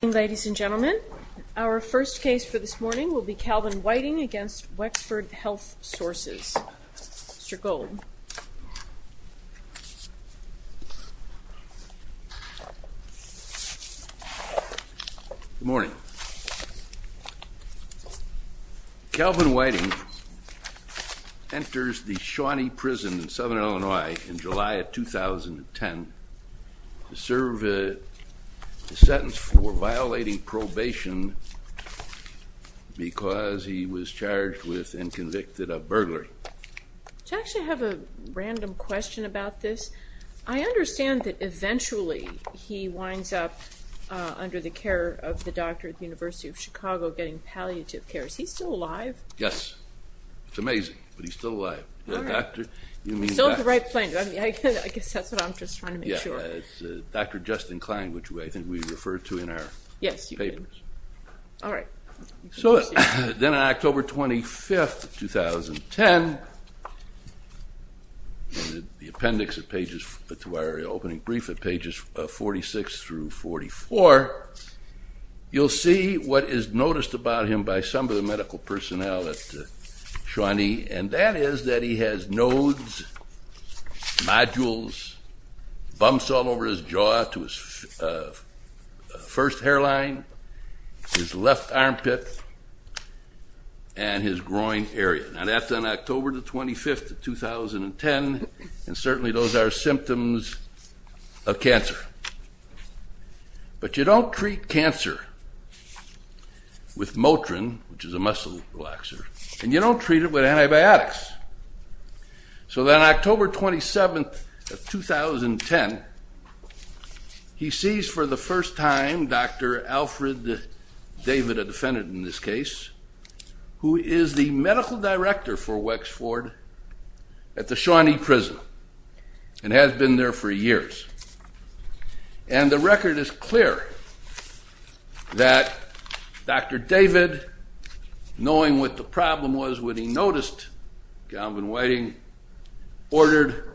Good morning, ladies and gentlemen. Our first case for this morning will be Calvin Whiting v. Wexford Health Sources. Mr. Gold. Good morning. Calvin Whiting enters the Shawnee Prison in Southern Illinois in July of 2010 to serve a sentence for violating probation because he was charged with and convicted of burglary. Do I actually have a random question about this? I understand that eventually he winds up under the care of the doctor at the University of Chicago getting palliative care. Is he still alive? Yes. It's amazing, but he's still alive. Still on the right plane. I guess that's what I'm just trying to make sure. Dr. Justin Klein, which I think we referred to in our papers. Yes, you did. All right. So then on October 25, 2010, the appendix to our opening brief at pages 46 through 44, you'll see what is noticed about him by some of the medical personnel at Shawnee, and that is that he has nodes, nodules, bumps all over his jaw to his first hairline, his left armpit, and his groin area. Now that's on October 25, 2010, and certainly those are symptoms of cancer. But you don't treat cancer with Motrin, which is a muscle relaxer, and you don't treat it with antibiotics. So then October 27, 2010, he sees for the first time Dr. Alfred David, a defendant in this case, who is the medical director for Wexford at the Shawnee prison and has been there for years. And the record is clear that Dr. David, knowing what the problem was when he noticed Galvin Whiting, ordered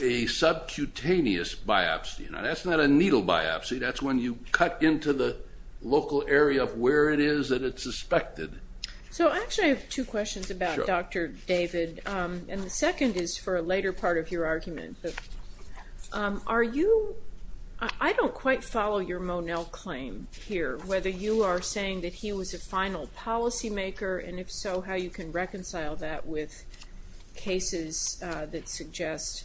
a subcutaneous biopsy. Now that's not a needle biopsy. That's when you cut into the local area of where it is that it's suspected. So actually I have two questions about Dr. David, and the second is for a later part of your argument. Are you – I don't quite follow your Monell claim here, whether you are saying that he was a final policymaker, and if so, how you can reconcile that with cases that suggest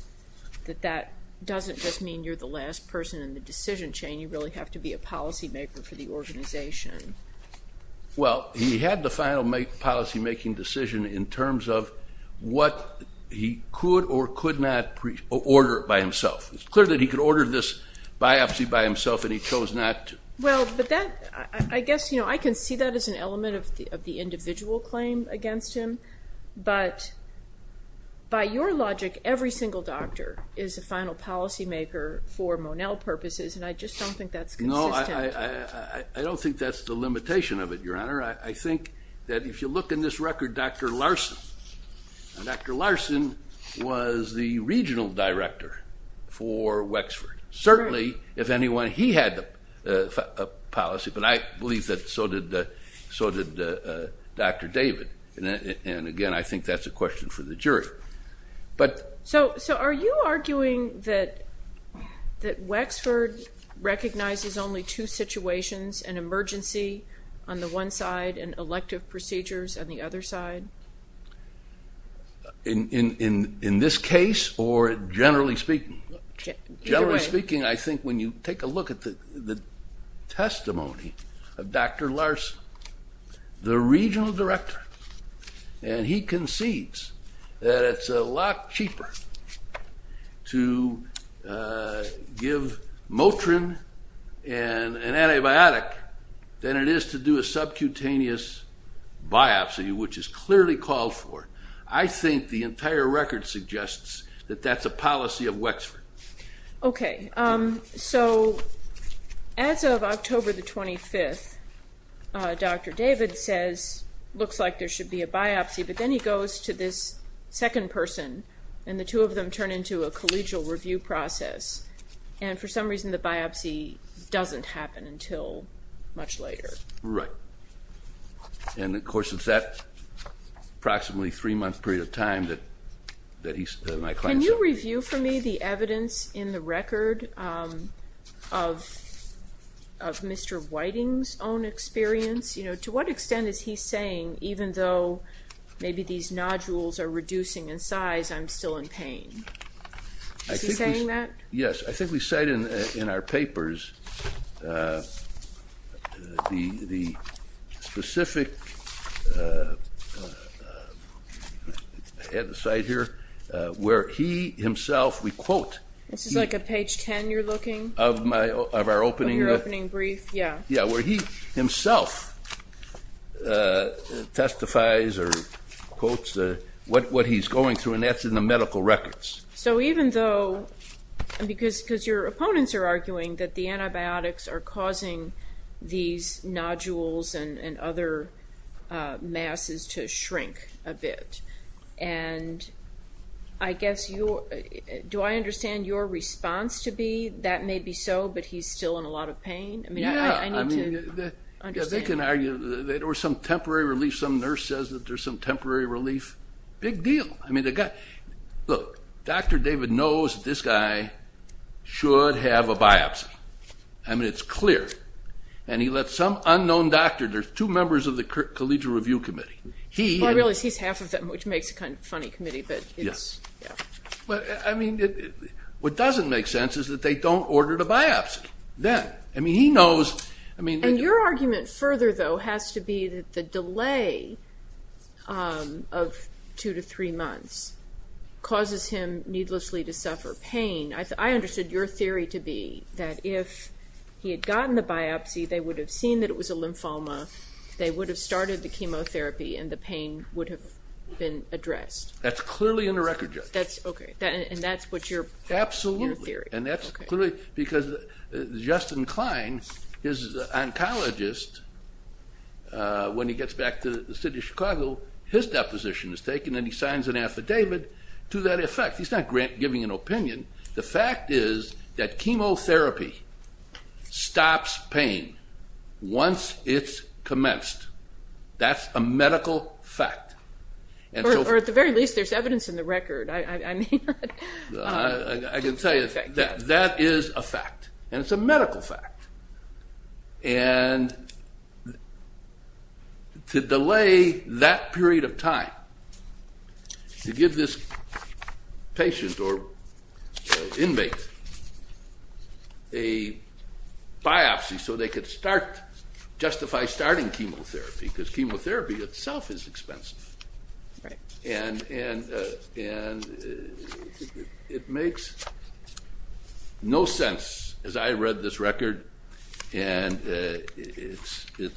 that that doesn't just mean you're the last person in the decision chain. You really have to be a policymaker for the organization. Well, he had the final policymaking decision in terms of what he could or could not order by himself. It's clear that he could order this biopsy by himself, and he chose not to. Well, but that – I guess I can see that as an element of the individual claim against him. But by your logic, every single doctor is a final policymaker for Monell purposes, and I just don't think that's consistent. I don't think that's the limitation of it, Your Honor. I think that if you look in this record, Dr. Larson – Dr. Larson was the regional director for Wexford. Certainly, if anyone, he had the policy, but I believe that so did Dr. David. And again, I think that's a question for the jury. So are you arguing that Wexford recognizes only two situations, an emergency on the one side and elective procedures on the other side? In this case or generally speaking? Generally speaking, I think when you take a look at the testimony of Dr. Larson, the regional director, and he concedes that it's a lot cheaper to give Motrin an antibiotic than it is to do a subcutaneous biopsy, which is clearly called for. I think the entire record suggests that that's a policy of Wexford. Okay, so as of October the 25th, Dr. David says, looks like there should be a biopsy, but then he goes to this second person, and the two of them turn into a collegial review process, and for some reason the biopsy doesn't happen until much later. Right. And of course, it's that approximately three-month period of time that my client said – Can you review for me the evidence in the record of Mr. Whiting's own experience? You know, to what extent is he saying, even though maybe these nodules are reducing in size, I'm still in pain? Is he saying that? Yes, I think we cite in our papers the specific – I have the cite here – where he himself, we quote – This is like a page 10 you're looking? Of our opening – Of your opening brief, yeah. Yeah, where he himself testifies or quotes what he's going through, and that's in the medical records. So even though – because your opponents are arguing that the antibiotics are causing these nodules and other masses to shrink a bit, and I guess you – do I understand your response to be, that may be so, but he's still in a lot of pain? Yeah. I mean, I need to understand. Yeah, they can argue, or some temporary relief, some nurse says that there's some temporary relief. Big deal. I mean, the guy – look, Dr. David knows that this guy should have a biopsy. I mean, it's clear. And he let some unknown doctor – there's two members of the collegial review committee. He – Well, I realize he's half of them, which makes a kind of funny committee, but it's – Yeah. Yeah. Well, I mean, what doesn't make sense is that they don't order the biopsy then. I mean, he knows – I mean – Well, your argument further, though, has to be that the delay of two to three months causes him needlessly to suffer pain. I understood your theory to be that if he had gotten the biopsy, they would have seen that it was a lymphoma, they would have started the chemotherapy, and the pain would have been addressed. That's clearly in the record, Jessica. That's – okay. And that's what your theory is. Because Justin Klein, his oncologist, when he gets back to the city of Chicago, his deposition is taken and he signs an affidavit to that effect. He's not giving an opinion. The fact is that chemotherapy stops pain once it's commenced. That's a medical fact. Or at the very least, there's evidence in the record. I mean – I can tell you that that is a fact, and it's a medical fact. And to delay that period of time, to give this patient or inmate a biopsy so they could start – justify starting chemotherapy, because chemotherapy itself is expensive. And it makes no sense, as I read this record, and it's – The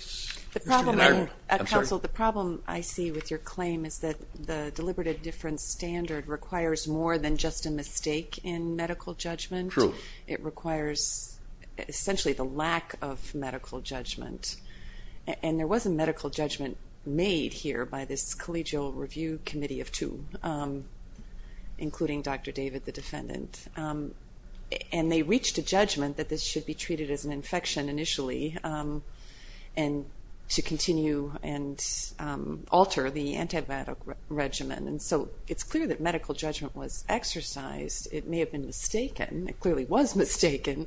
problem, counsel, the problem I see with your claim is that the deliberative difference standard requires more than just a mistake in medical judgment. True. It requires essentially the lack of medical judgment. And there was a medical judgment made here by this collegial review committee of two, including Dr. David, the defendant. And they reached a judgment that this should be treated as an infection initially and to continue and alter the antibiotic regimen. And so it's clear that medical judgment was exercised. It may have been mistaken. It clearly was mistaken.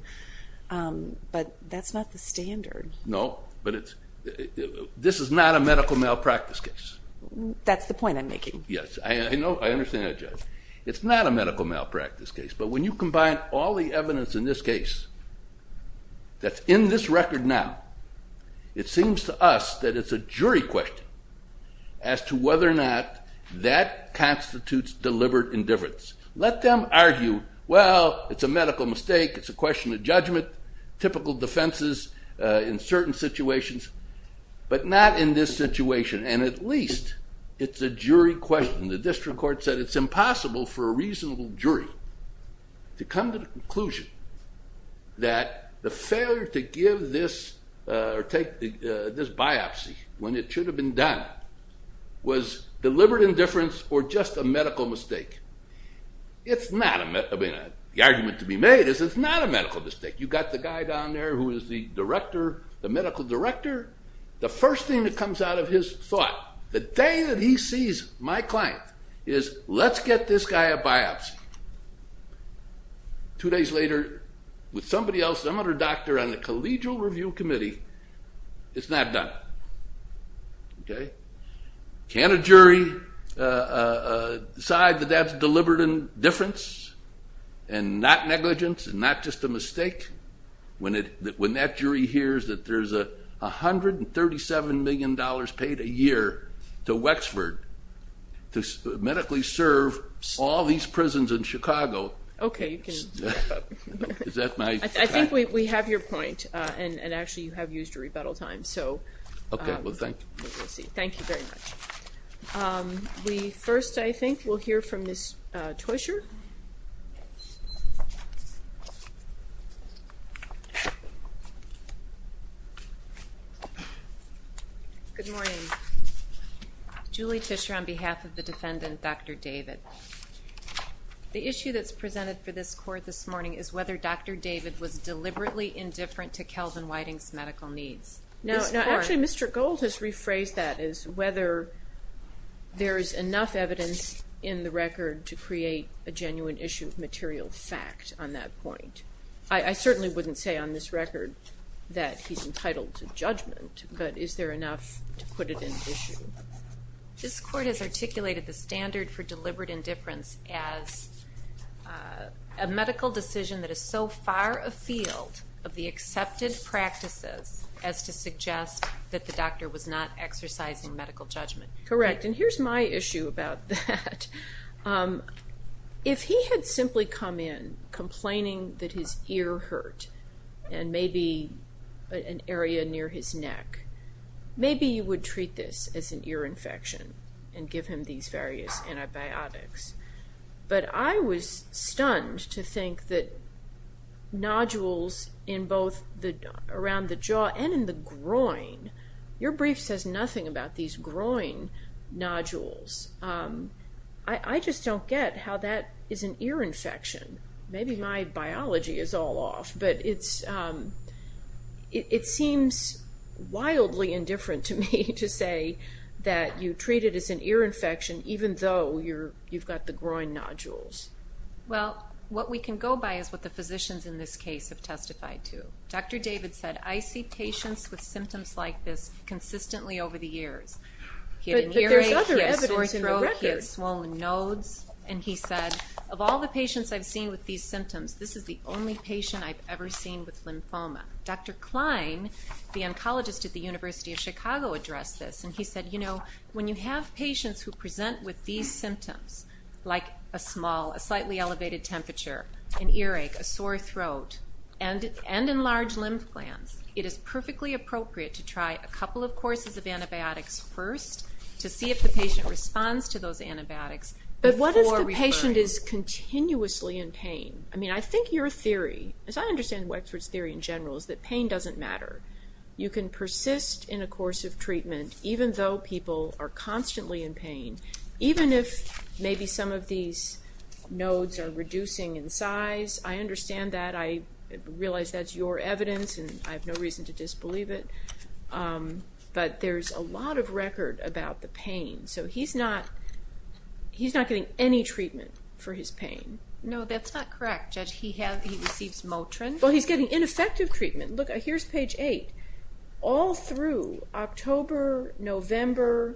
But that's not the standard. No, but it's – this is not a medical malpractice case. That's the point I'm making. Yes, I know, I understand that, Judge. It's not a medical malpractice case, but when you combine all the evidence in this case that's in this record now, it seems to us that it's a jury question as to whether or not that constitutes deliberate indifference. Let them argue, well, it's a medical mistake, it's a question of judgment, typical defenses in certain situations, but not in this situation. And at least it's a jury question. The district court said it's impossible for a reasonable jury to come to the conclusion that the failure to give this or take this biopsy when it should have been done was deliberate indifference or just a medical mistake. It's not a – I mean, the argument to be made is it's not a medical mistake. You've got the guy down there who is the director, the medical director. The first thing that comes out of his thought the day that he sees my client is let's get this guy a biopsy. Two days later, with somebody else, some other doctor on the collegial review committee, it's not done. Can a jury decide that that's deliberate indifference and not negligence and not just a mistake when that jury hears that there's $137 million paid a year to Wexford to medically serve all these prisons in Chicago? Okay, you can stop. I think we have your point, and actually you have used your rebuttal time. Okay, well, thank you. Thank you very much. We first, I think, will hear from Ms. Tuescher. Good morning. Julie Tuescher on behalf of the defendant, Dr. David. The issue that's presented for this court this morning is whether Dr. David was deliberately indifferent to Kelvin Whiting's medical needs. Actually, Mr. Gold has rephrased that as whether there is enough evidence in the record to create a genuine issue of material fact on that point. I certainly wouldn't say on this record that he's entitled to judgment, but is there enough to put it into issue? This court has articulated the standard for deliberate indifference as a medical decision that is so far afield of the accepted practices as to suggest that the doctor was not exercising medical judgment. Correct, and here's my issue about that. If he had simply come in complaining that his ear hurt and maybe an area near his neck, maybe you would treat this as an ear infection and give him these various antibiotics. But I was stunned to think that nodules in both around the jaw and in the groin, your brief says nothing about these groin nodules. I just don't get how that is an ear infection. Maybe my biology is all off, but it seems wildly indifferent to me to say that you treat it as an ear infection even though you've got the groin nodules. Well, what we can go by is what the physicians in this case have testified to. Dr. David said, I see patients with symptoms like this consistently over the years. But there's other evidence in the record. And he said, of all the patients I've seen with these symptoms, this is the only patient I've ever seen with lymphoma. Dr. Klein, the oncologist at the University of Chicago, addressed this. And he said, you know, when you have patients who present with these symptoms, like a small, a slightly elevated temperature, an earache, a sore throat, and enlarged lymph glands, it is perfectly appropriate to try a couple of courses of antibiotics first to see if the patient responds to those antibiotics before referring. But what if the patient is continuously in pain? I mean, I think your theory, as I understand Wexford's theory in general, is that pain doesn't matter. You can persist in a course of treatment even though people are constantly in pain. Even if maybe some of these nodes are reducing in size, I understand that. I realize that's your evidence, and I have no reason to disbelieve it. But there's a lot of record about the pain. So he's not getting any treatment for his pain. No, that's not correct. Judge, he receives Motrin. Well, he's getting ineffective treatment. Look, here's page 8. All through October, November,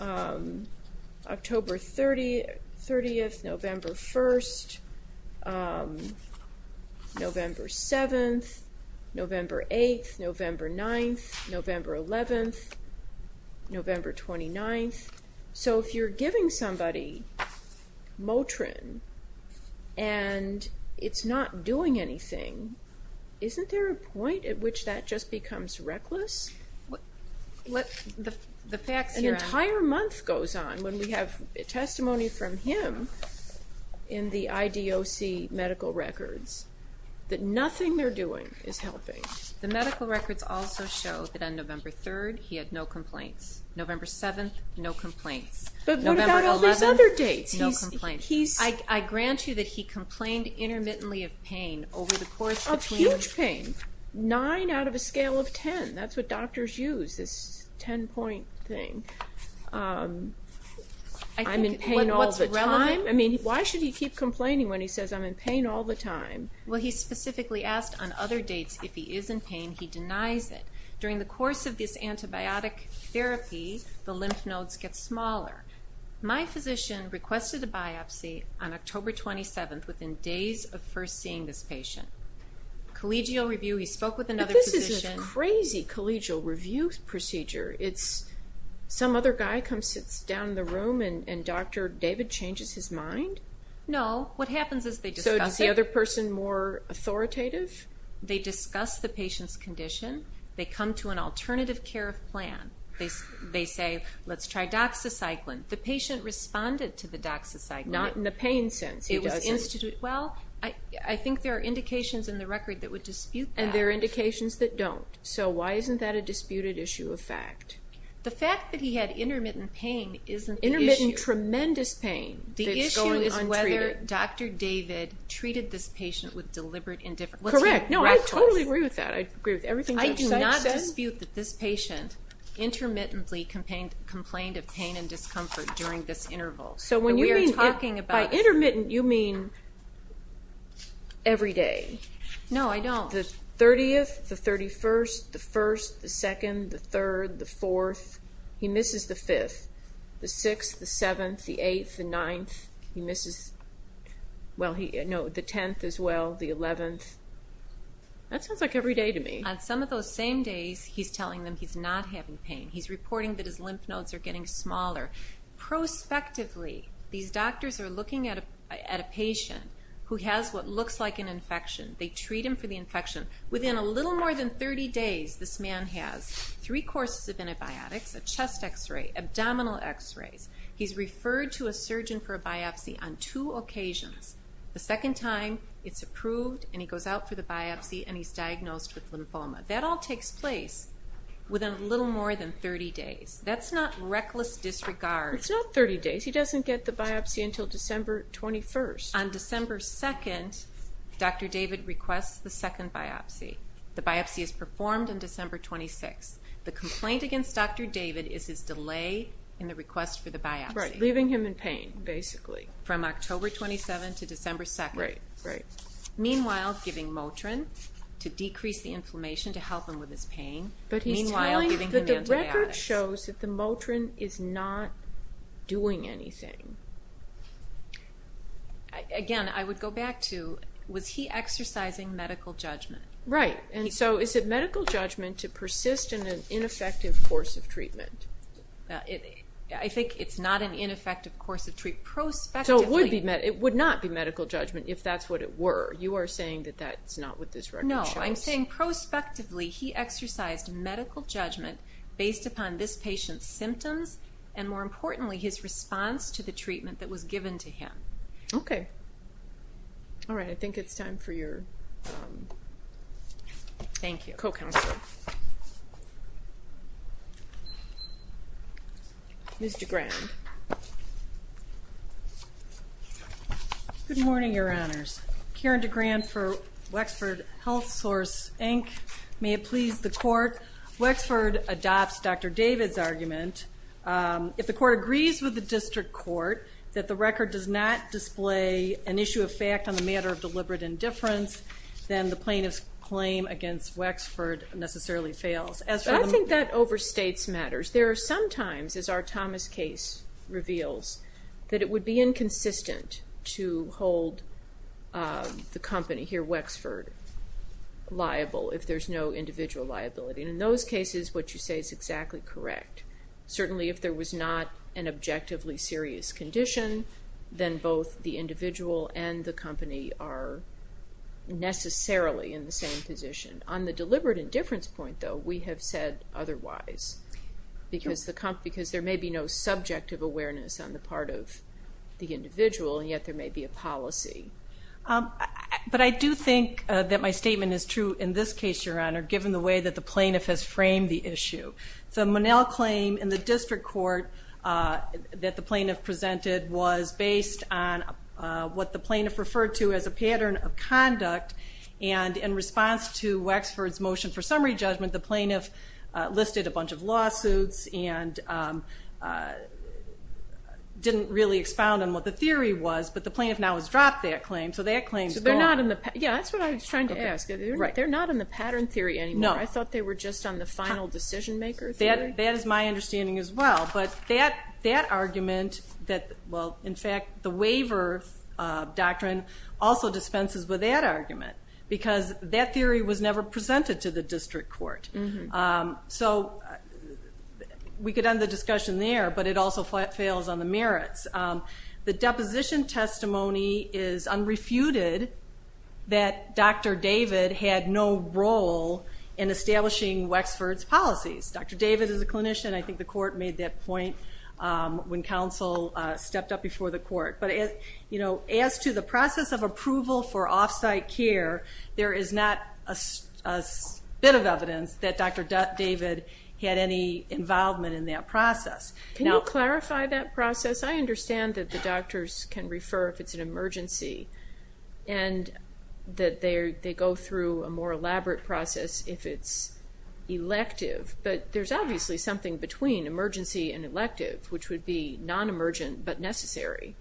October 30th, November 1st, November 7th, November 8th, November 9th, November 11th, November 29th. So if you're giving somebody Motrin and it's not doing anything, isn't there a point at which that just becomes reckless? An entire month goes on when we have testimony from him in the IDOC medical records that nothing they're doing is helping. The medical records also show that on November 3rd, he had no complaints. November 7th, no complaints. But what about all these other dates? I grant you that he complained intermittently of pain over the course of... Of huge pain, 9 out of a scale of 10. That's what doctors use, this 10-point thing. I'm in pain all the time. What's relevant? I mean, why should he keep complaining when he says, I'm in pain all the time? Well, he specifically asked on other dates if he is in pain. He denies it. During the course of this antibiotic therapy, the lymph nodes get smaller. My physician requested a biopsy on October 27th within days of first seeing this patient. Collegial review. He spoke with another physician. But this is a crazy collegial review procedure. Some other guy comes, sits down in the room, and Dr. David changes his mind? No. What happens is they discuss it. So is the other person more authoritative? They discuss the patient's condition. They come to an alternative care plan. They say, let's try doxycycline. The patient responded to the doxycycline. Not in the pain sense. He doesn't. Well, I think there are indications in the record that would dispute that. And there are indications that don't. So why isn't that a disputed issue of fact? The fact that he had intermittent pain isn't the issue. Intermittent, tremendous pain that's going untreated. The issue is whether Dr. David treated this patient with deliberate indifference. Correct. No, I totally agree with that. I agree with everything Dr. Seitz says. I do not dispute that this patient intermittently complained of pain and discomfort during this interval. By intermittent, you mean every day. No, I don't. The 30th, the 31st, the 1st, the 2nd, the 3rd, the 4th. He misses the 5th, the 6th, the 7th, the 8th, the 9th. He misses the 10th as well, the 11th. That sounds like every day to me. On some of those same days, he's telling them he's not having pain. He's reporting that his lymph nodes are getting smaller. Prospectively, these doctors are looking at a patient who has what looks like an infection. They treat him for the infection. Within a little more than 30 days, this man has three courses of antibiotics, a chest X-ray, abdominal X-rays. He's referred to a surgeon for a biopsy on two occasions. The second time, it's approved, and he goes out for the biopsy, and he's diagnosed with lymphoma. That all takes place within a little more than 30 days. That's not reckless disregard. It's not 30 days. He doesn't get the biopsy until December 21st. On December 2nd, Dr. David requests the second biopsy. The biopsy is performed on December 26th. The complaint against Dr. David is his delay in the request for the biopsy. Right, leaving him in pain, basically. From October 27th to December 2nd. Right, right. Meanwhile, giving Motrin to decrease the inflammation to help him with his pain. But he's telling that the record shows that the Motrin is not doing anything. Again, I would go back to, was he exercising medical judgment? Right, and so is it medical judgment to persist in an ineffective course of treatment? I think it's not an ineffective course of treatment. Prospectively. So it would not be medical judgment if that's what it were. You are saying that that's not what this record shows. No, I'm saying prospectively he exercised medical judgment based upon this patient's symptoms and, more importantly, his response to the treatment that was given to him. Okay. Thank you. Ms. DeGrand. Good morning, Your Honors. Karen DeGrand for Wexford HealthSource, Inc. May it please the Court, Wexford adopts Dr. David's argument. If the Court agrees with the District Court that the record does not display an issue of fact on the matter of deliberate indifference, then the plaintiff's claim against Wexford necessarily fails. I think that overstates matters. There are some times, as our Thomas case reveals, that it would be inconsistent to hold the company here, Wexford, liable if there's no individual liability. In those cases, what you say is exactly correct. Certainly if there was not an objectively serious condition, then both the individual and the company are necessarily in the same position. On the deliberate indifference point, though, we have said otherwise because there may be no subjective awareness on the part of the individual, and yet there may be a policy. But I do think that my statement is true in this case, Your Honor, given the way that the plaintiff has framed the issue. The Monell claim in the District Court that the plaintiff presented was based on what the plaintiff referred to as a pattern of conduct and in response to Wexford's motion for summary judgment, the plaintiff listed a bunch of lawsuits and didn't really expound on what the theory was, but the plaintiff now has dropped that claim, so that claim is gone. Yeah, that's what I was trying to ask. They're not in the pattern theory anymore. I thought they were just on the final decision-maker theory. That is my understanding as well. But that argument, well, in fact, the waiver doctrine also dispenses with that argument because that theory was never presented to the District Court. So we could end the discussion there, but it also fails on the merits. The deposition testimony is unrefuted that Dr. David had no role in establishing Wexford's policies. Dr. David is a clinician. I think the court made that point when counsel stepped up before the court. But as to the process of approval for offsite care, there is not a bit of evidence that Dr. David had any involvement in that process. Can you clarify that process? I understand that the doctors can refer if it's an emergency and that they go through a more elaborate process if it's elective, but there's obviously something between emergency and elective, which would be non-emergent but necessary.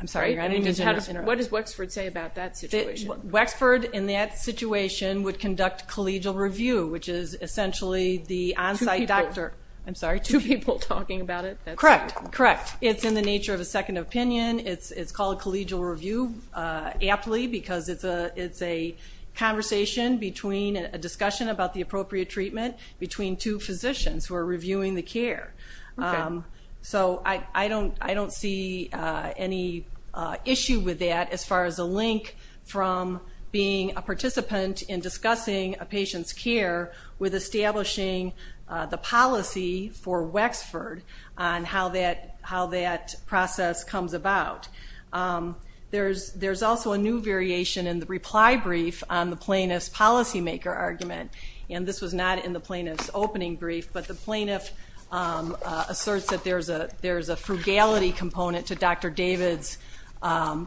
I'm sorry, I didn't mean to interrupt. What does Wexford say about that situation? Wexford in that situation would conduct collegial review, which is essentially the onsite doctor. Two people. I'm sorry, two people talking about it? Correct, correct. It's in the nature of a second opinion. It's called collegial review aptly because it's a conversation between a discussion about the appropriate treatment between two physicians who are reviewing the care. So I don't see any issue with that as far as a link from being a participant in discussing a patient's care with establishing the policy for Wexford on how that process comes about. There's also a new variation in the reply brief on the plaintiff's policymaker argument, and this was not in the plaintiff's opening brief, but the plaintiff asserts that there's a frugality component to Dr. David's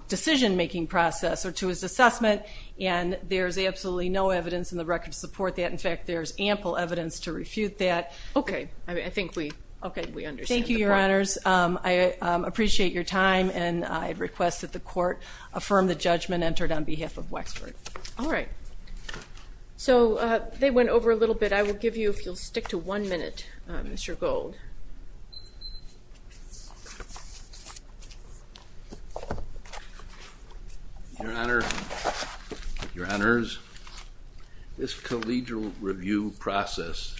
decision-making process or to his assessment, and there's absolutely no evidence in the record to support that. In fact, there's ample evidence to refute that. Okay. I think we understand the point. Thank you, Your Honors. I appreciate your time, and I request that the Court affirm the judgment entered on behalf of Wexford. All right. So they went over a little bit. I will give you, if you'll stick to one minute, Mr. Gold. Your Honors, this collegial review process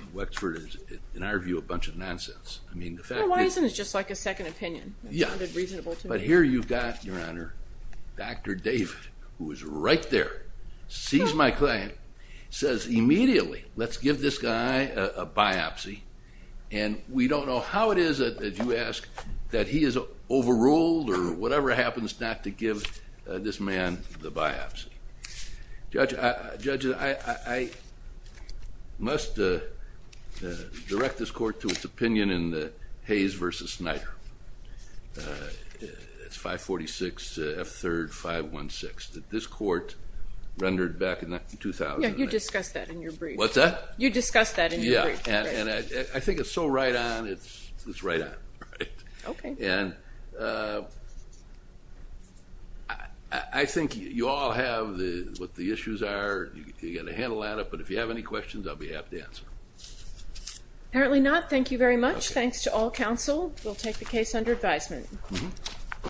in Wexford is, in our view, a bunch of nonsense. Why isn't it just like a second opinion? Yeah. But here you've got, Your Honor, Dr. David, who is right there, sees my client, says immediately, let's give this guy a biopsy, and we don't know how it is that you ask that he is overruled or whatever happens not to give this man the biopsy. Judge, I must direct this Court to its opinion in the Hayes v. Snyder. It's 546 F. 3rd 516 that this Court rendered back in 2000. Yeah, you discussed that in your brief. What's that? You discussed that in your brief. Yeah, and I think it's so right on, it's right on. Okay. And I think you all have what the issues are, you've got a handle on it, but if you have any questions, I'll be happy to answer. Apparently not. Thank you very much. Thanks to all counsel. We'll take the case under advisement.